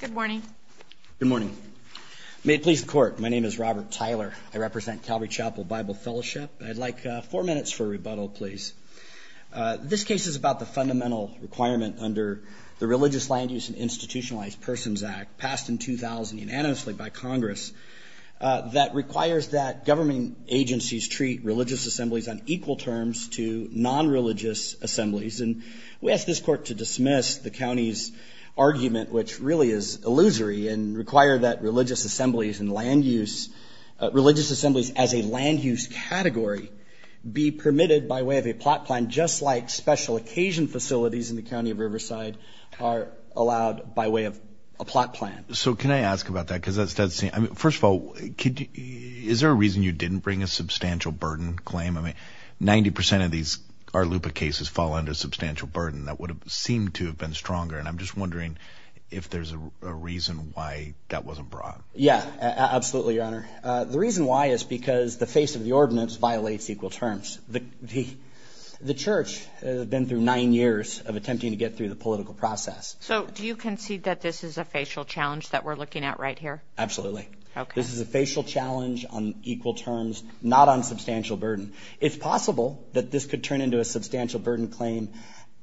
Good morning. Good morning. May it please the court, my name is Robert Tyler. I represent Calvary Chapel Bible Fellowship. I'd like four minutes for a rebuttal, please. This case is about the fundamental requirement under the Religious Land Use and Institutionalized Persons Act passed in 2000 unanimously by Congress that requires that government agencies treat religious assemblies on equal terms to non-religious assemblies. And we ask this court to dismiss the county's argument, which really is illusory, and require that religious assemblies and land use religious assemblies as a land use category be permitted by way of a plot plan, just like special occasion facilities in the county of Riverside are allowed by way of a plot plan. So can I ask about that? Because that's, that's, I mean, first of all, could you, is there a reason you didn't bring a substantial burden claim? I mean, 90% of these RLUPA cases fall under substantial burden that would have seemed to have been stronger. And I'm just wondering if there's a reason why that wasn't brought. Yeah, absolutely, Your Honor. The reason why is because the face of the ordinance violates equal terms. The church has been through nine years of attempting to get through the political process. So do you concede that this is a facial challenge that we're looking at right here? Absolutely. This is a facial challenge on equal terms, not on substantial burden. It's possible that this could turn into a substantial burden claim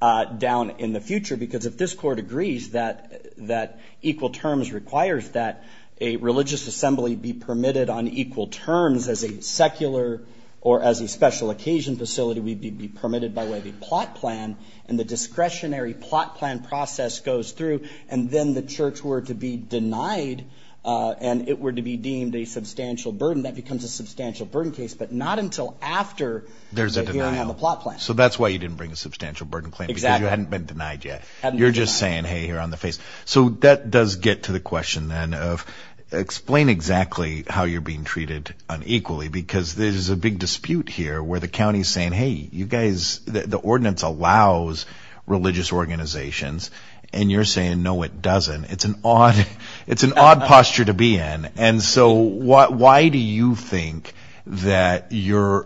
down in the future, because if this court agrees that, that equal terms requires that a religious assembly be permitted on equal terms as a secular or as a special occasion facility, we'd be permitted by way of a plot plan, and the discretionary plot plan process goes through, and then the church were to be denied and it were to be deemed a substantial burden, that becomes a substantial burden case, but not until after the hearing on the plot plan. So that's why you didn't bring a substantial burden claim, because you hadn't been denied yet. You're just saying, hey, here on the face. So that does get to the question then of explain exactly how you're being treated unequally, because there's a big dispute here where the county's saying, hey, you guys, the ordinance allows religious organizations, and you're saying, no, it doesn't. It's an odd, it's an odd posture to be in, and so why do you think that you're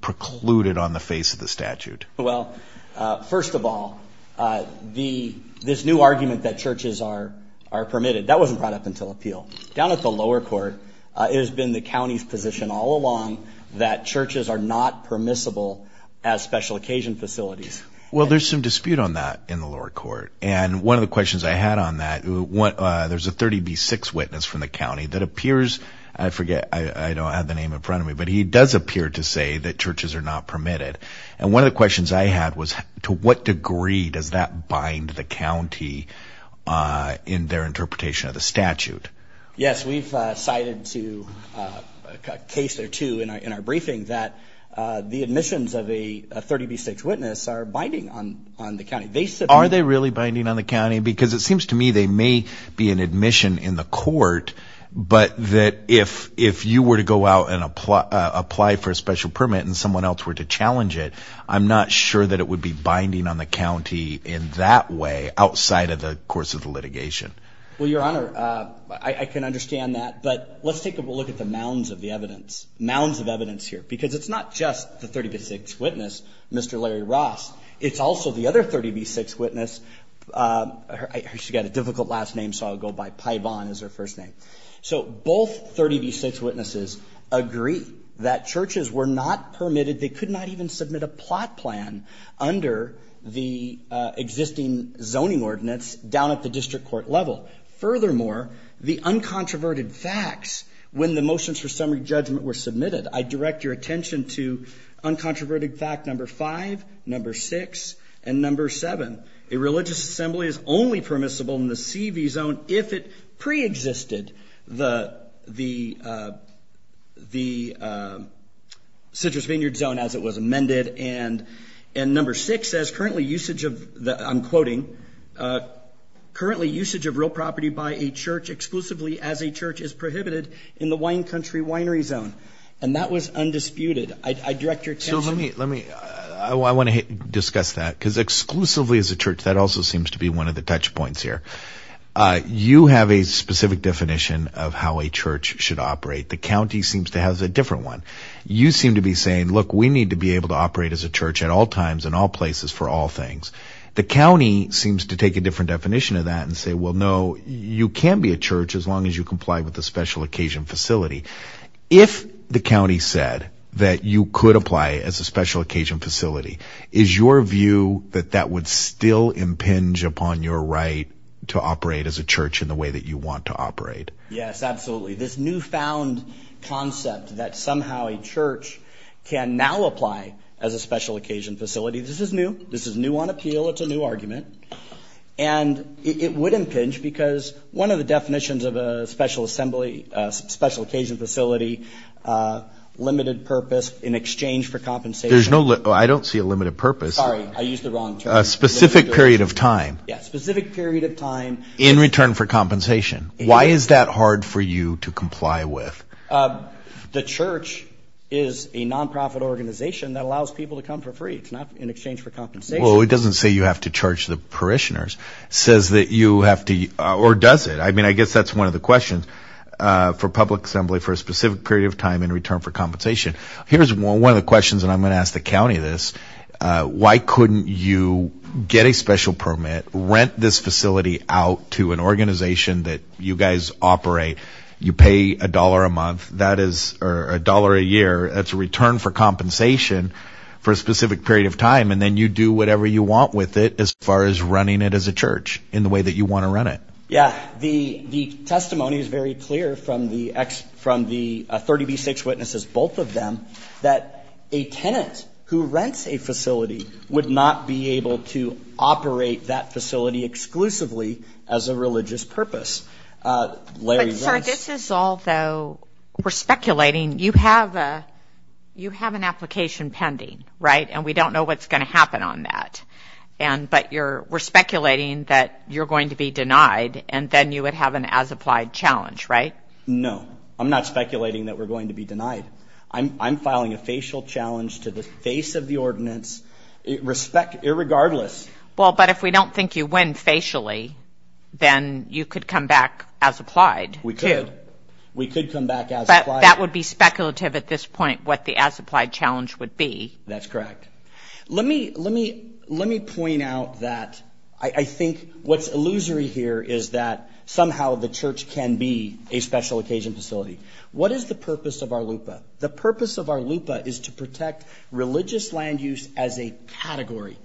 precluded on the face of the statute? Well, first of all, this new argument that churches are permitted, that wasn't brought up until appeal. Down at the lower court, it has been the county's position all along that churches are not permissible as special occasion facilities. Well, there's some dispute on that in the lower court, and one of the questions I had on that, there's a 30B6 witness from the county that appears, I forget, I don't have the name in front of me, but he does appear to say that churches are not permitted, and one of the questions I had was to what degree does that bind the county in their interpretation of the statute? Yes, we've cited to a case or two in our briefing that the admissions of a 30B6 witness are binding on the county. Are they really binding on the county? Because it seems to me they may be an admission in the court, but that if you were to go out and apply for a special permit and someone else were to challenge it, I'm not sure that it would be binding on the county in that way outside of the course of the litigation. Well, your honor, I can understand that, but let's take a look at the mounds of the evidence, mounds of evidence here, because it's not just the 30B6 witness, Mr. Larry Ross, it's also the other 30B6 witness. She's got a difficult last name, so I'll go by Paivon is her first name. So both 30B6 witnesses agree that churches were not permitted, they could not even submit a plot plan under the existing zoning ordinance down at the district court level. Furthermore, the uncontroverted facts when the motions for summary judgment were submitted, I direct your attention to 30B6 and number 7, a religious assembly is only permissible in the CV zone if it pre-existed the the Citrus Vineyard zone as it was amended, and number 6 says currently usage of the, I'm quoting, currently usage of real property by a church exclusively as a church is prohibited in the wine country winery zone, and that was discussed that, because exclusively as a church, that also seems to be one of the touch points here. You have a specific definition of how a church should operate. The county seems to have a different one. You seem to be saying, look, we need to be able to operate as a church at all times in all places for all things. The county seems to take a different definition of that and say, well, no, you can be a church as long as you comply with the special occasion facility. If the county said that you could apply as a special occasion facility, is your view that that would still impinge upon your right to operate as a church in the way that you want to operate? Yes, absolutely. This newfound concept that somehow a church can now apply as a special occasion facility, this is new. This is new on appeal. It's a new argument and it would impinge because one of the definitions of a special assembly, a special occasion facility, limited purpose in exchange for compensation. There's no limit. I don't see a limited purpose. Sorry, I used the wrong term. A specific period of time. Yes, a specific period of time. In return for compensation. Why is that hard for you to comply with? The church is a non-profit organization that allows people to come for free. It's not in exchange for compensation. Well, it doesn't say you have to charge the parishioners. It says that you have to, or does it? I mean, I guess that's one of the questions for public assembly for a specific period of time in return for compensation. Here's one of the questions and I'm going to ask the county this. Why couldn't you get a special permit, rent this facility out to an organization that you guys operate, you pay a dollar a month, that is, or a dollar a year, that's a return for compensation for a specific period of time and then you do whatever you want with it as far as running it as a church in the way that you want to run it? Yeah, the testimony is very clear from the 30B6 witnesses, both of them, that a tenant who rents a facility would not be able to operate that facility exclusively as a religious purpose. Larry, this is all though we're speculating. You have an application pending, right? And we don't know what's going to happen on that. But we're speculating that you're going to be denied and then you would have an as-applied challenge, right? No, I'm not speculating that we're going to be denied. I'm filing a facial challenge to the face of the ordinance irregardless. Well, but if we don't think you win facially, then you could come back as-applied. We could. We could come back as-applied. But that would be speculative at this point what the as-applied challenge would be. That's correct. Let me point out that I think what's illusory here is that somehow the church can be a special occasion facility. What is the purpose of our LUPA? The purpose of our LUPA is to protect religious land use as a category.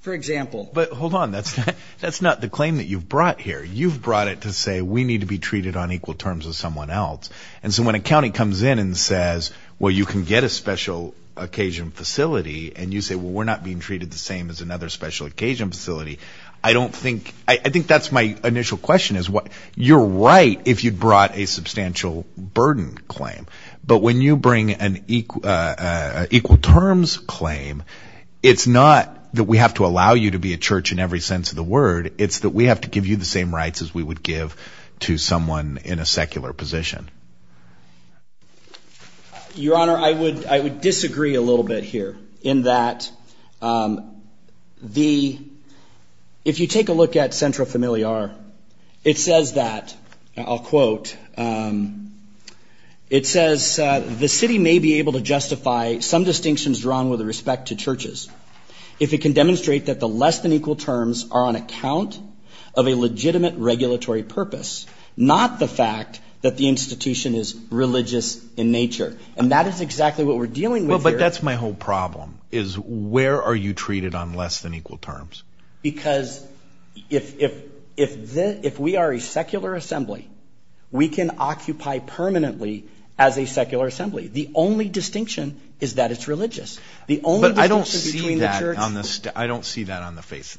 For example. But hold on, that's not the claim that you've brought here. You've brought it to say we need to be treated on equal terms with someone else. And so when a county comes in and says, well, you can get a special occasion facility and you say, well, we're not being treated the same as another special occasion facility. I think that's my initial question. You're right if you'd brought a substantial burden claim. But when you bring an equal terms claim, it's not that we have to allow you to be a church in every sense of the word. It's that we have to give you the same rights as we would give to someone in a secular position. Your Honor, I would disagree a little bit here in that if you take a look at Centro Familiar, it says that, I'll quote, it says, the city may be able to justify some distinctions drawn with respect to churches if it can demonstrate that the less than equal terms are on account of a legitimate regulatory purpose, not the fact that the institution is religious in nature. And that is exactly what we're dealing with here. Well, but that's my whole problem, is where are you treated on less than equal terms? Because if we are a secular assembly, we can occupy permanently as a secular assembly. The only distinction is that it's religious. But I don't see that on the face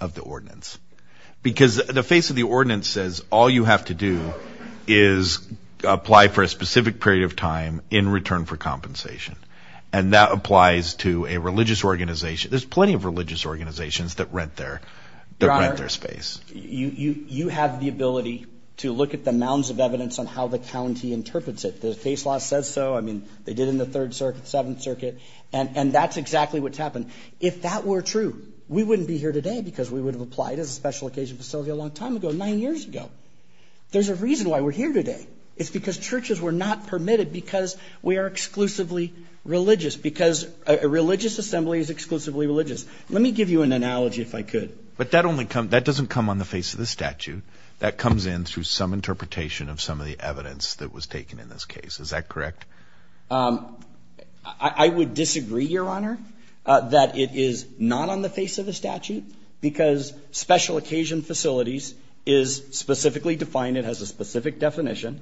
of the ordinance. Because the face of the ordinance says all you have to do is apply for a specific period of time in return for compensation. And that applies to a religious organization. There's plenty of religious organizations that rent their space. You have the ability to look at the mounds of evidence on how the county interprets it. The face law says so. They did in the third circuit, seventh circuit. And that's exactly what's happened. If that were true, we wouldn't be here today because we would have applied as a special occasion facility a long time ago, nine years ago. There's a reason why we're here today. It's because churches were not permitted because we are exclusively religious, because a religious assembly is exclusively religious. Let me give you an analogy if I could. But that doesn't come on the face of the statute. That comes in through some interpretation of some of the evidence that was taken in this case. Is that correct? I would disagree, your honor, that it is not on the face of the statute because special occasion facilities is specifically defined. It has a specific definition.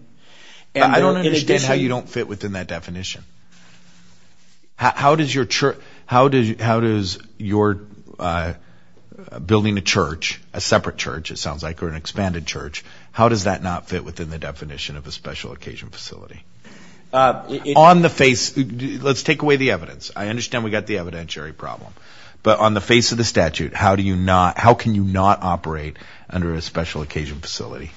I don't understand how you don't fit within that definition. How does your church, how does your building a church, a separate church, it sounds like, or an expanded church, how does that not fit within the definition of a special occasion facility? Let's take away the evidence. I understand we got the evidentiary problem. But on the face of the statute, how can you not operate under a special occasion facility?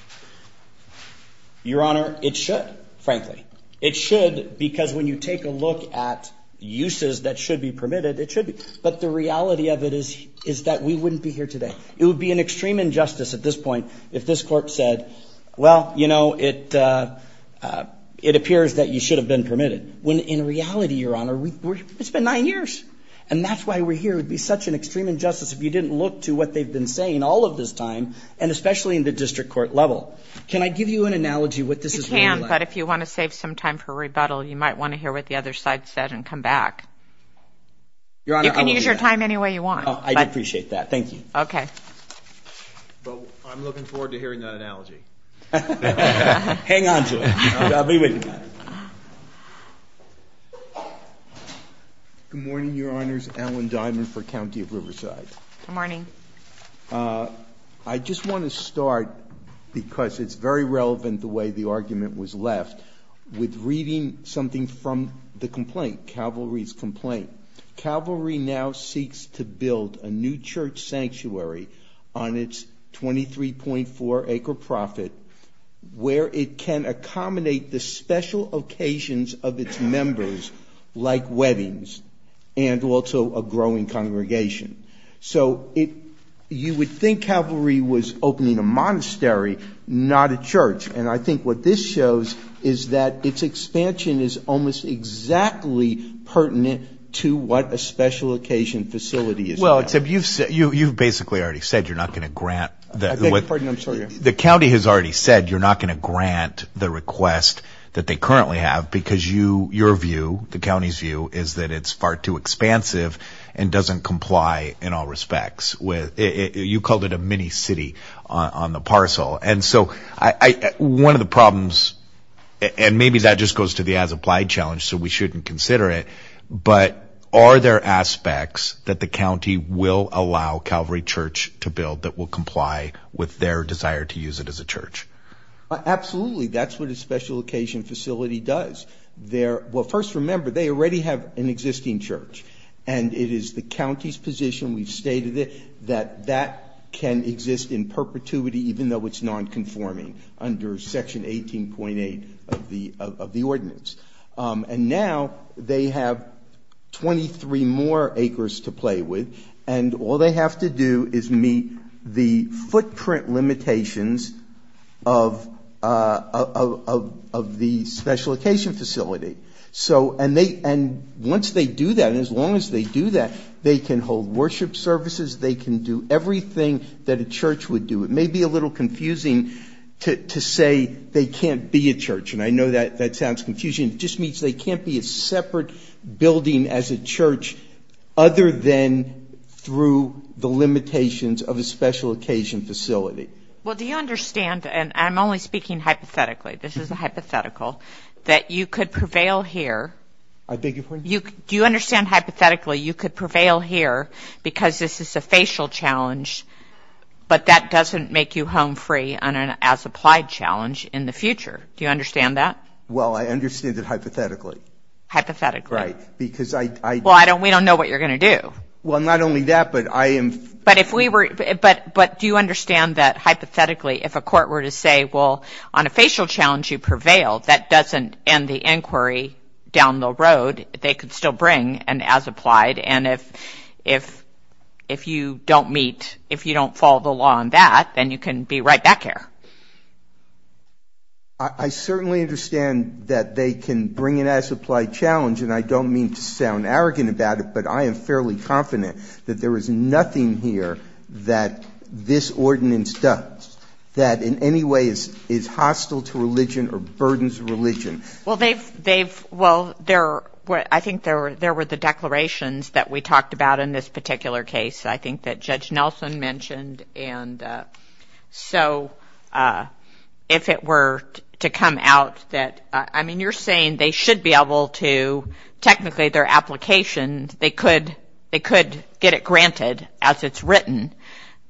Your honor, it should, frankly. It should because when you take a look at uses that should be permitted, it should be. But the reality of it is that we wouldn't be here today. It would be an extreme injustice at this point if this court said, well, you know, it appears that you should have been permitted. When in reality, your honor, it's been nine years. And that's why we're here. It would be such an extreme injustice if you didn't look to what they've been saying all of this time, and especially in the district court level. Can I give you an analogy what this is? You can, but if you want to save some time for rebuttal, you might want to hear what the other side said and come back. You can use your time any way you want. I appreciate that. Thank you. Okay. Well, I'm looking forward to hearing that analogy. Hang on to it. I'll be with you. Good morning, your honors. Alan Diamond for County of Riverside. Good morning. I just want to start because it's very relevant the way the argument was left with reading something from the complaint, Calvary's complaint. Calvary now seeks to build a new church sanctuary on its 23.4 acre profit, where it can accommodate the special occasions of its members like weddings and also a growing congregation. So you would think Calvary was opening a monastery, not a church. And I think what this shows is that its expansion is almost exactly pertinent to what a special occasion facility is. Well, you've basically already said you're not going to grant. The county has already said you're not going to grant the request that they currently have because your view, the county's view, is that it's far too expansive and doesn't comply in all respects. You called it a mini city on the parcel. One of the problems, and maybe that just goes to the as applied challenge, so we shouldn't consider it, but are there aspects that the county will allow Calvary Church to build that will comply with their desire to use it as a church? Absolutely. That's what a special occasion facility does. Well, first remember, they already have an existing church and it is the county's position, we've stated it, that that can exist in perpetuity even though it's non-conforming under section 18.8 of the ordinance. And now they have 23 more acres to play with and all they have to do is meet the footprint limitations of the special occasion facility. And once they do that, as long as they do that, they can hold worship services, they can do everything that a church would do. It may be a little confusing to say they can't be a church, and I know that that sounds confusing. It just means they can't be a separate building as a church other than through the limitations of a special occasion facility. Well, do you understand, and I'm only speaking hypothetically, this is a hypothetical, that you could prevail here. I beg your pardon? Do you understand hypothetically you could prevail here because this is a facial challenge, but that doesn't make you home free on an as-applied challenge in the future. Do you understand that? Well, I understand it hypothetically. Hypothetically? Right, because I... Well, I don't, we don't know what you're going to do. Well, not only that, but I am... But if we were, but do you understand that hypothetically if a court were to say, well, on a facial challenge you prevail, that doesn't end the inquiry down the road. They could still bring an as-applied and if if if you don't meet, if you don't follow the law on that, then you can be right back here. I certainly understand that they can bring an as-applied challenge, and I don't mean to sound arrogant about it, but I am fairly confident that there is nothing here that this ordinance does that in any way is hostile to religion or burdens religion. Well, they've, they've, well, there were, I think there were, there were the declarations that we talked about in this particular case, I think that Judge Nelson mentioned, and so if it were to come out that, I mean, you're saying they should be able to, technically, their application, they could, they could get it granted as it's written,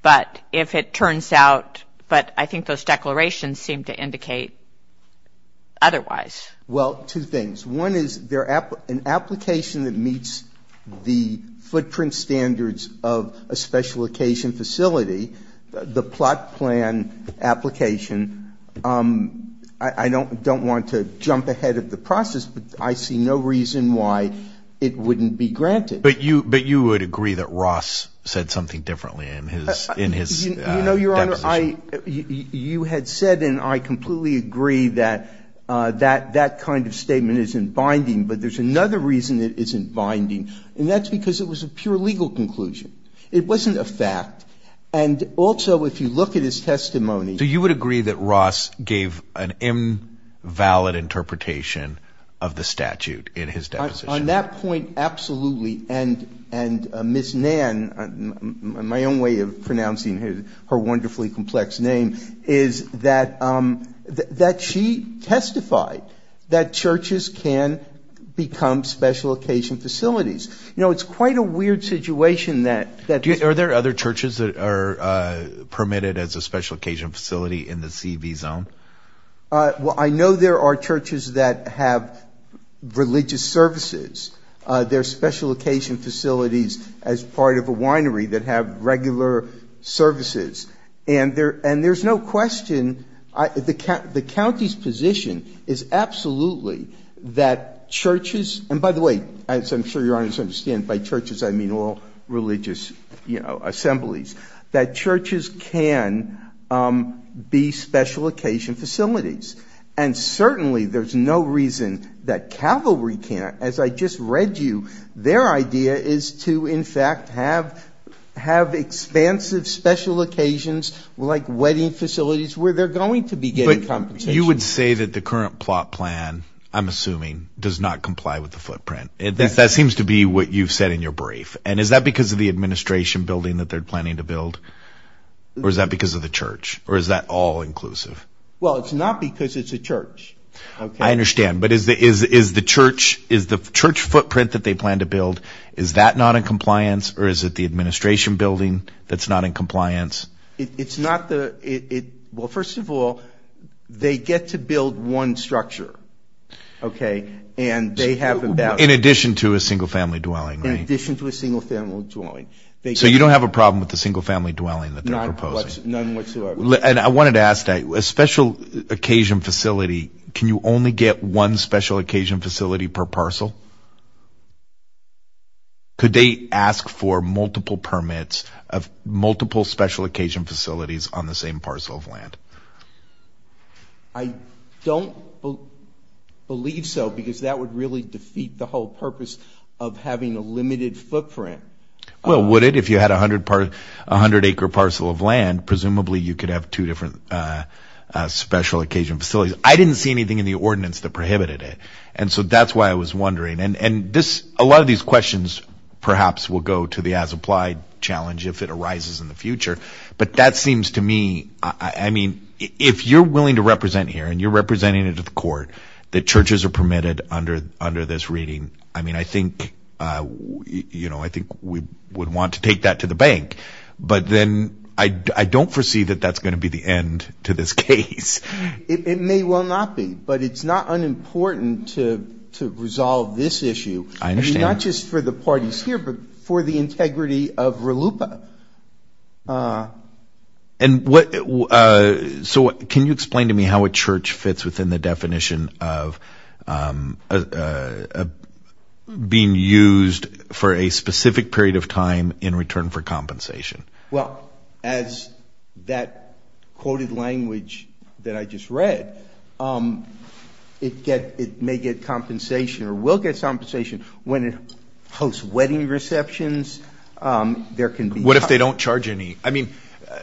but if it turns out, but I think those declarations seem to indicate otherwise. Well, two things. One is they're, an application that meets the footprint standards of a special occasion facility, the plot plan application, I don't, don't want to jump ahead of the process, but I see no reason why it wouldn't be granted. But you, but you would agree that Ross said something differently in his, in his deposition? You know, Your Honor, I, you had said, and I completely agree that that, that kind of statement isn't binding, but there's another reason it isn't binding, and that's because it was a pure legal conclusion. It wasn't a fact. And also, if you look at his testimony. So you would agree that Ross gave an invalid interpretation of the statute in his deposition? On that point, absolutely. And, and Ms. Nann, my own way of pronouncing his, her wonderfully complex name, is that, that she testified that churches can become special occasion facilities. You know, it's quite a weird situation that, that... Are there other churches that are permitted as a special occasion facility in the C.V. zone? Well, I know there are churches that have religious services. There are special occasion facilities as part of a winery that have regular services. And there, and there's no question, I, the, the county's position is absolutely that churches, and by the way, as I'm sure Your Honors understand, by churches, I mean all religious, you know, assemblies, that churches can be special occasion facilities. And I just read you their idea is to, in fact, have, have expansive special occasions, like wedding facilities, where they're going to be getting compensation. But you would say that the current plot plan, I'm assuming, does not comply with the footprint. That seems to be what you've said in your brief. And is that because of the administration building that they're planning to build? Or is that because of the church? Or is that all inclusive? Well, it's not because it's a church. I understand. But is the, is, is the church, is the church footprint that they plan to build, is that not in compliance? Or is it the administration building that's not in compliance? It's not the, it, well, first of all, they get to build one structure. Okay, and they have them down. In addition to a single-family dwelling. In addition to a single-family dwelling. So you don't have a problem with the single-family dwelling that they're proposing? None whatsoever. And I wanted to ask that, a special occasion facility, can you only get one special occasion facility per parcel? Could they ask for multiple permits of multiple special occasion facilities on the same parcel of land? I don't believe so, because that would really defeat the whole purpose of having a limited footprint. Well, would it? If you had 100, 100 acre parcel of land, presumably you could have two different special occasion facilities. I didn't see anything in the ordinance that prohibited it. And so that's why I was wondering. And, and this, a lot of these questions perhaps will go to the as applied challenge if it arises in the future. But that seems to me, I mean, if you're willing to represent here and you're representing it at the court, that churches are permitted under, under this reading. I mean, I think, you know, I think we would want to take that to the bank, but then I don't foresee that that's going to be the end to this case. It may well not be, but it's not unimportant to, to resolve this issue. I understand. Not just for the parties here, but for the integrity of RLUIPA. And what, so can you explain to me how a church fits within the definition of, of being used for a specific period of time in return for compensation? Well, as that quoted language that I just read, it get, it may get compensation or will get some compensation when it hosts wedding receptions. There can be. What if they don't charge any? I mean,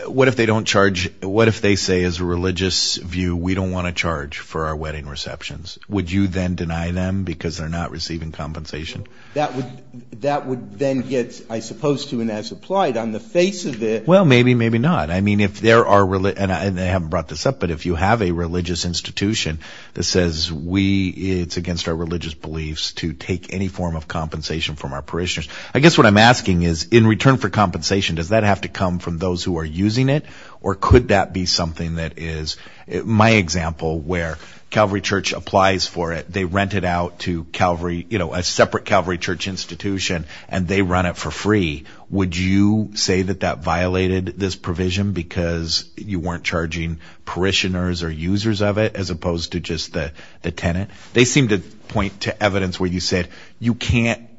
what if they don't charge? What if they say, as a religious view, we don't want to charge for our wedding receptions. Would you then deny them because they're not receiving compensation? That would, that would then get, I suppose, to, and as applied on the face of it. Well, maybe, maybe not. I mean, if there are, and I haven't brought this up, but if you have a religious institution that says we, it's against our religious beliefs to take any form of compensation from our parishioners. I guess what I'm asking is in return for compensation, does that have to come from those who are using it? Or could that be something that is, my example where Calvary Church applies for it. They rent it out to Calvary, you know, a separate Calvary Church institution and they run it for free. Would you say that that violated this provision because you weren't charging parishioners or users of it as opposed to just the, the tenant? They seem to point to evidence where you said you can't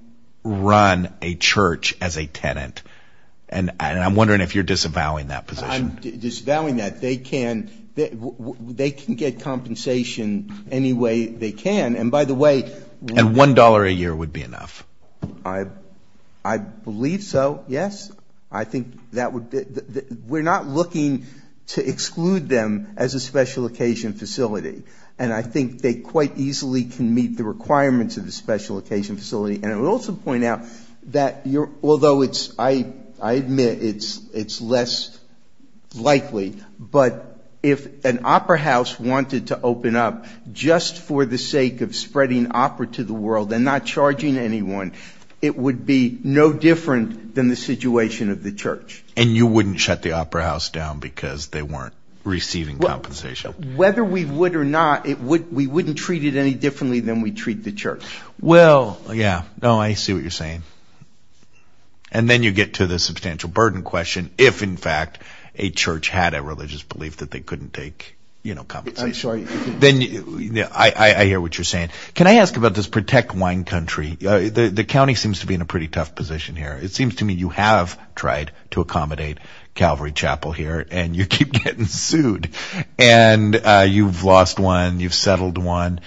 run a church as a tenant. And I'm wondering if you're disavowing that position. Disavowing that, they can, they can get compensation any way they can. And by the way. And $1 a year would be enough. I, I believe so, yes. I think that would, we're not looking to exclude them as a special occasion facility. And I think they quite easily can meet the requirements of the special occasion facility. And I would also point out that you're, although it's, I, I admit it's, it's less likely, but if an opera house wanted to open up just for the sake of spreading opera to the world and not charging anyone, it would be no different than the situation of the church. And you wouldn't shut the opera house down because they weren't receiving compensation? Whether we would or not, it would, we wouldn't treat it any differently than we treat the church. Well, yeah, no, I see what you're saying. And then you get to the substantial burden question. If in fact a church had a religious belief that they couldn't take, you know, compensation. I'm sorry. Then I, I hear what you're saying. Can I ask about this protect wine country? The county seems to be in a pretty tough position here. It seems to me you have tried to accommodate Calvary Chapel here and you keep getting sued. And you've lost one. You've settled one.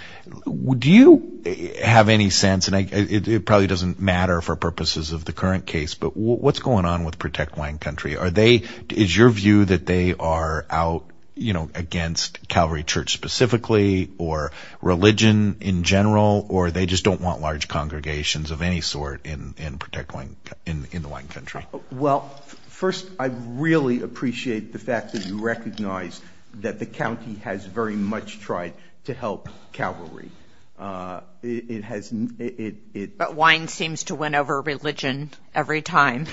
Do you have any sense, and it probably doesn't matter for purposes of the current case, but what's going on with protect wine country? Are they, is your view that they are out, you know, against Calvary church specifically or religion in general, or they just don't want large congregations of any sort in, in protect wine, in, in the wine country? Well, first I really appreciate the fact that you recognize that the county has very much tried to help Calvary. It has, it, it. But wine seems to win over religion every time.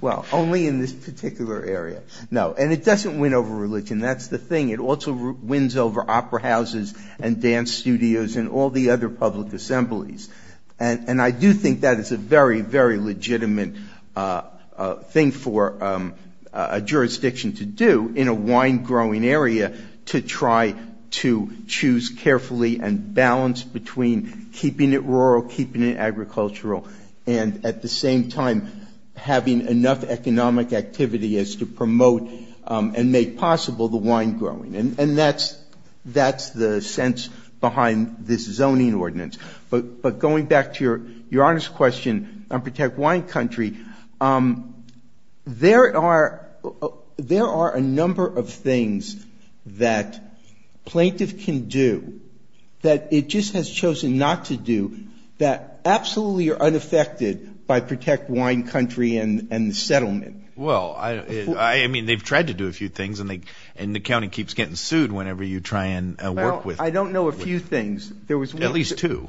Well, only in this particular area. No, and it doesn't win over religion. That's the thing. It also wins over opera houses and dance studios and all the other public assemblies. And, and I do think that is a very, very legitimate thing for a jurisdiction to do in a wine growing area to try to choose carefully and balance between keeping it rural, keeping it agricultural, and at the same time having enough economic activity as to promote and make possible the wine growing. And that's, that's the sense behind this zoning ordinance. But, but going back to your, your honest question on protect wine country, um, there are, there are a number of things that plaintiff can do that it just has chosen not to do that absolutely are unaffected by protect wine country and, and the settlement. Well, I, I mean, they've tried to do a few things and they, and the county keeps getting sued whenever you try and work with. I don't know a few things. There was at least two.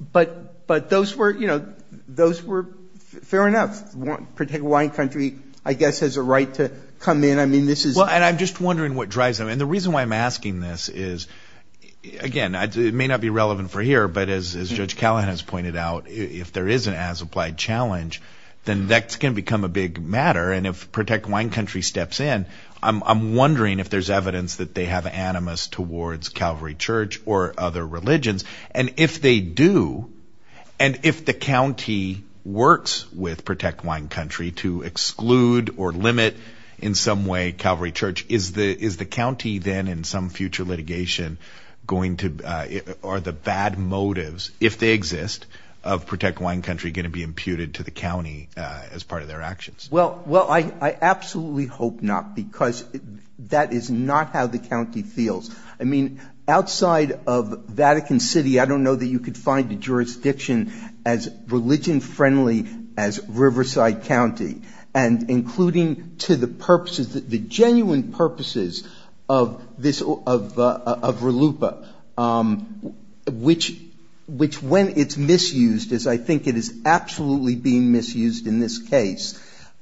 But, but those were, you know, those were fair enough. Protect wine country, I guess, has a right to come in. I mean, this is. Well, and I'm just wondering what drives them. And the reason why I'm asking this is, again, it may not be relevant for here, but as Judge Callahan has pointed out, if there is an as-applied challenge, then that's going to become a big matter. And if protect wine country steps in, I'm wondering if there's evidence that they have animus towards Calvary Church or other religions. And if they do, and if the county works with protect wine country to exclude or limit in some way Calvary Church, is the, is the county then in some future litigation going to, or the bad motives, if they exist, of protect wine country going to be imputed to the county as part of their actions? Well, well, I, I absolutely hope not because that is not how the county feels. I mean, outside of Vatican City, I don't know that you could find a jurisdiction as religion-friendly as Riverside County. And including to the purposes, the genuine purposes of this, of, of RLUIPA, which, which when it's misused, as I think it is absolutely being misused in this case,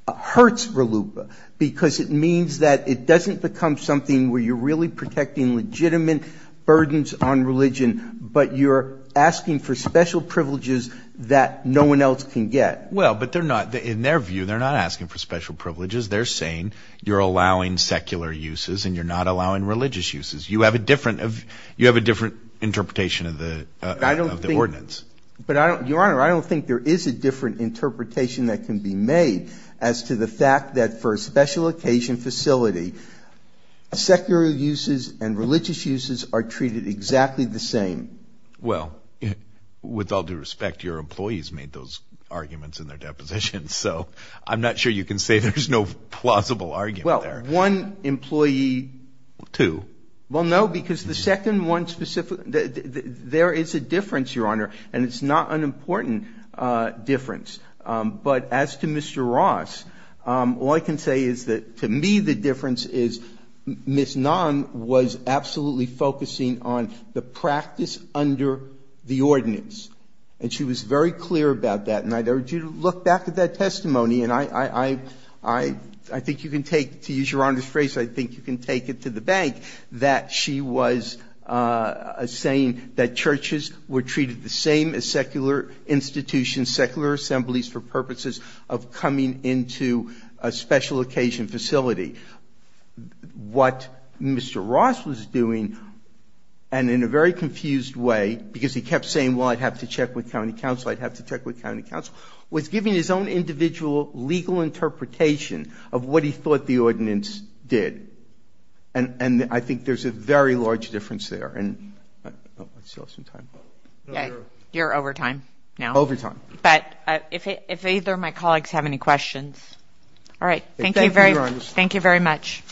hurts RLUIPA because it means that it doesn't become something where you're really protecting legitimate burdens on religion, but you're asking for special privileges that no one else can get. Well, but they're not, in their view, they're not asking for special privileges. They're saying you're allowing secular uses and you're not allowing religious uses. You have a different of, you have a different interpretation of the, of the ordinance. But I don't, Your Honor, I don't think there is a different interpretation that can be made as to the fact that for a special occasion facility, secular uses and religious uses are treated exactly the same. Well, with all due respect, your employees made those arguments in their deposition, so I'm not sure you can say there's no plausible argument there. Well, one employee. Two. Well, no, because the second one specifically, there is a difference, Your Honor, and it's not an important difference. But as to Mr. Ross, all I can say is that, to me, the difference is Ms. Nahn was absolutely focusing on the practice under the ordinance, and she was very clear about that. And I'd urge you to look back at that testimony, and I, I, I, I, I think you can take, to use Your Honor's phrase, I think you can take it to the bank, that she was saying that churches were treated the same as secular institutions, secular assemblies, for purposes of coming into a special occasion facility. What Mr. Ross was doing, and in a very confused way, because he kept saying, well, I'd have to check with county council, I'd have to check with county council, was giving his own individual legal interpretation of what he thought the ordinance did. And, and I think there's a very large difference there. And, oh, I still have some time. Yeah, you're over time now. Over time. But if, if either of my colleagues have any questions. All right, thank you very, thank you very much.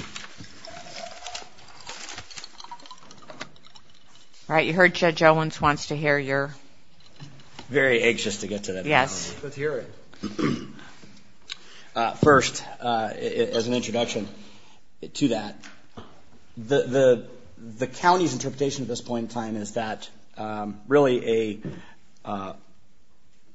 All right, you heard Judge Owens wants to hear your. Very anxious to get to that. Yes. Let's hear it. First, as an introduction to that, the county's interpretation at this point in time is that really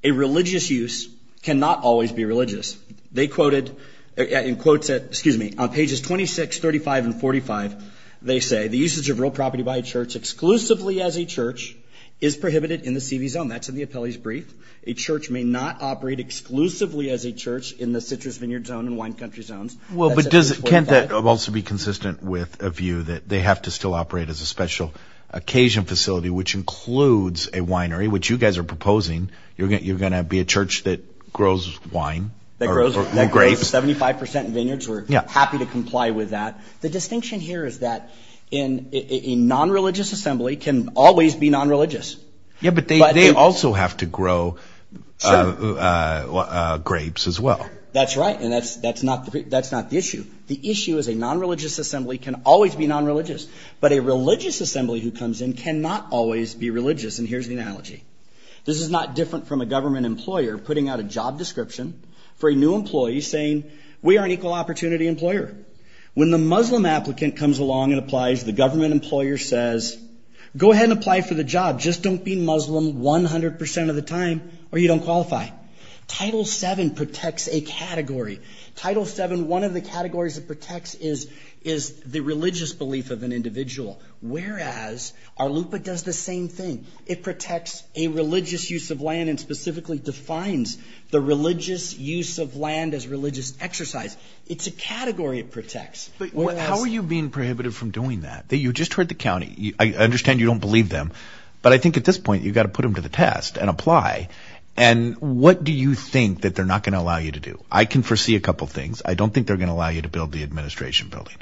a religious use cannot always be religious. They quoted, in quotes at, excuse me, on pages 26, 35, and 45, they say, the usage of real property by a church exclusively as a church is prohibited in the CV zone. That's in the appellee's brief. A church may not operate exclusively as a church in the citrus vineyard zone and wine country zones. Well, but does, can't that also be consistent with a view that they have to still operate as a special occasion facility, which includes a winery, which you guys are proposing. You're going, you're going to be a church that grows wine. That grows grapes. 75% vineyards. We're happy to comply with that. The distinction here is that in a non-religious assembly can always be non-religious. Yeah, but they also have to grow grapes as well. That's right. And that's, that's not, that's not the issue. The issue is a non-religious assembly can always be non-religious, but a religious assembly who comes in cannot always be religious. And here's the analogy. This is not different from a government employer putting out a job description for a new employee saying we are an equal opportunity employer. When the Muslim applicant comes along and applies, the government employer says, go ahead and apply for the job. Just don't be Muslim 100% of the time or you don't qualify. Title VII protects a category. Title VII, one of the categories it protects is, is the religious belief of an individual. Whereas our LUPA does the same thing. It protects a religious use of land and specifically defines the religious use of land as religious exercise. It's a category it protects. But how are you being prohibited from doing that? You just heard the county. I understand you don't believe them, but I think at this point you've got to put them to the test and apply. And what do you think that they're not going to allow you to do? I can foresee a couple of things. I don't think they're going to allow you to build the administration building.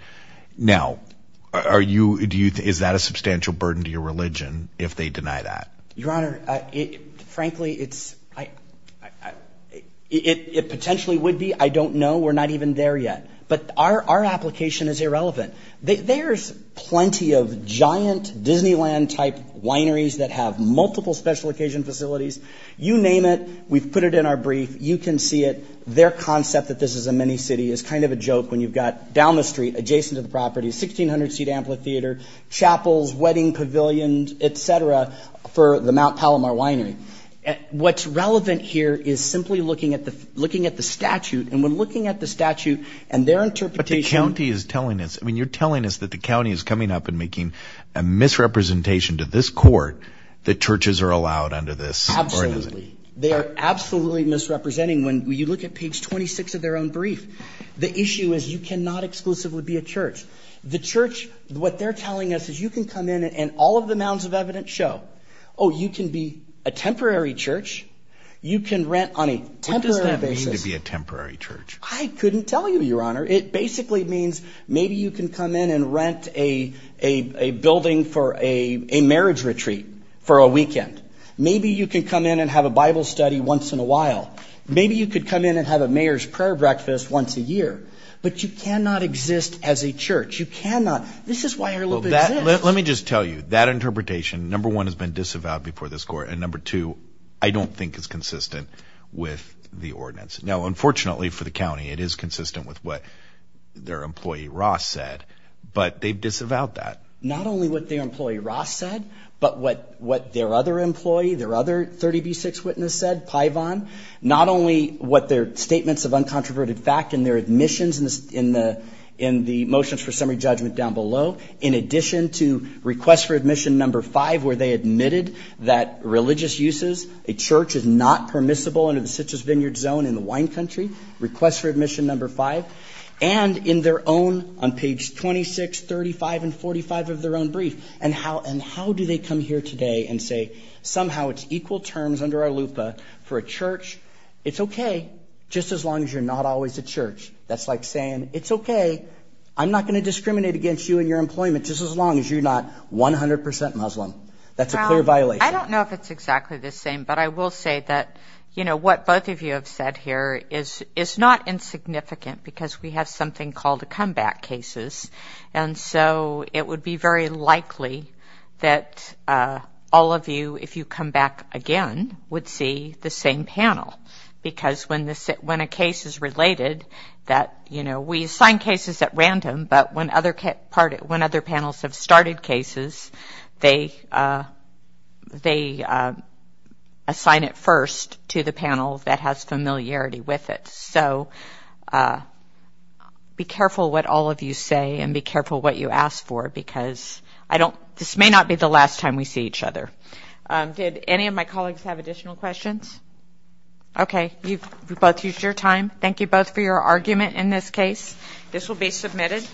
Now, are you, do you, is that a substantial burden to your religion if they deny that? Your Honor, frankly, it's, I, I, it, it potentially would be. I don't know. We're not even there yet. But our, our application is irrelevant. There's plenty of giant Disneyland type wineries that have multiple special occasion facilities. You name it. We've put it in our brief. You can see it. Their concept that this is a mini city is kind of a joke when you've got down the street adjacent to the property, 1600 seat amphitheater, chapels, wedding pavilions, et cetera, for the Mount Palomar winery. What's relevant here is simply looking at the, looking at the statute. And when looking at the statute and their interpretation. The county is telling us, I mean, you're telling us that the county is coming up and making a misrepresentation to this court that churches are allowed under this. Absolutely. They are absolutely misrepresenting. When you look at page 26 of their own brief, the issue is you cannot exclusively be a church. The church, what they're telling us is you can come in and all of the mounds of evidence show, oh, you can be a temporary church. You can rent on a temporary basis. What does that mean to be a temporary church? I couldn't tell you, Your Honor. It basically means maybe you can come in and rent a building for a marriage retreat for a weekend. Maybe you can come in and have a Bible study once in a while. Maybe you could come in and have a mayor's prayer breakfast once a year. But you cannot exist as a church. You cannot. This is why Herlovitch exists. Let me just tell you, that interpretation, number one, has been disavowed before this court. And number two, I don't think it's consistent with the ordinance. Now, unfortunately for the county, it is consistent with what their employee, Ross, said. But they've disavowed that. Not only what their employee, Ross, said, but what their other employee, their other 30B6 witness said, Paivon, not only what their statements of uncontroverted fact and their admissions in the motions for summary judgment down below, in addition to request for admission number five, where they admitted that religious uses, a church is not permissible under the country, request for admission number five, and in their own, on page 26, 35, and 45 of their own brief, and how do they come here today and say, somehow it's equal terms under our LUPA for a church. It's OK, just as long as you're not always a church. That's like saying, it's OK. I'm not going to discriminate against you and your employment just as long as you're not 100% Muslim. That's a clear violation. I don't know if it's exactly the same. I will say that what both of you have said here is not insignificant because we have something called the comeback cases. It would be very likely that all of you, if you come back again, would see the same panel because when a case is related, we assign cases at random, but when other panels have assigned it first to the panel that has familiarity with it. Be careful what all of you say and be careful what you ask for because this may not be the last time we see each other. Did any of my colleagues have additional questions? OK, you've both used your time. Thank you both for your argument in this case. This will be submitted.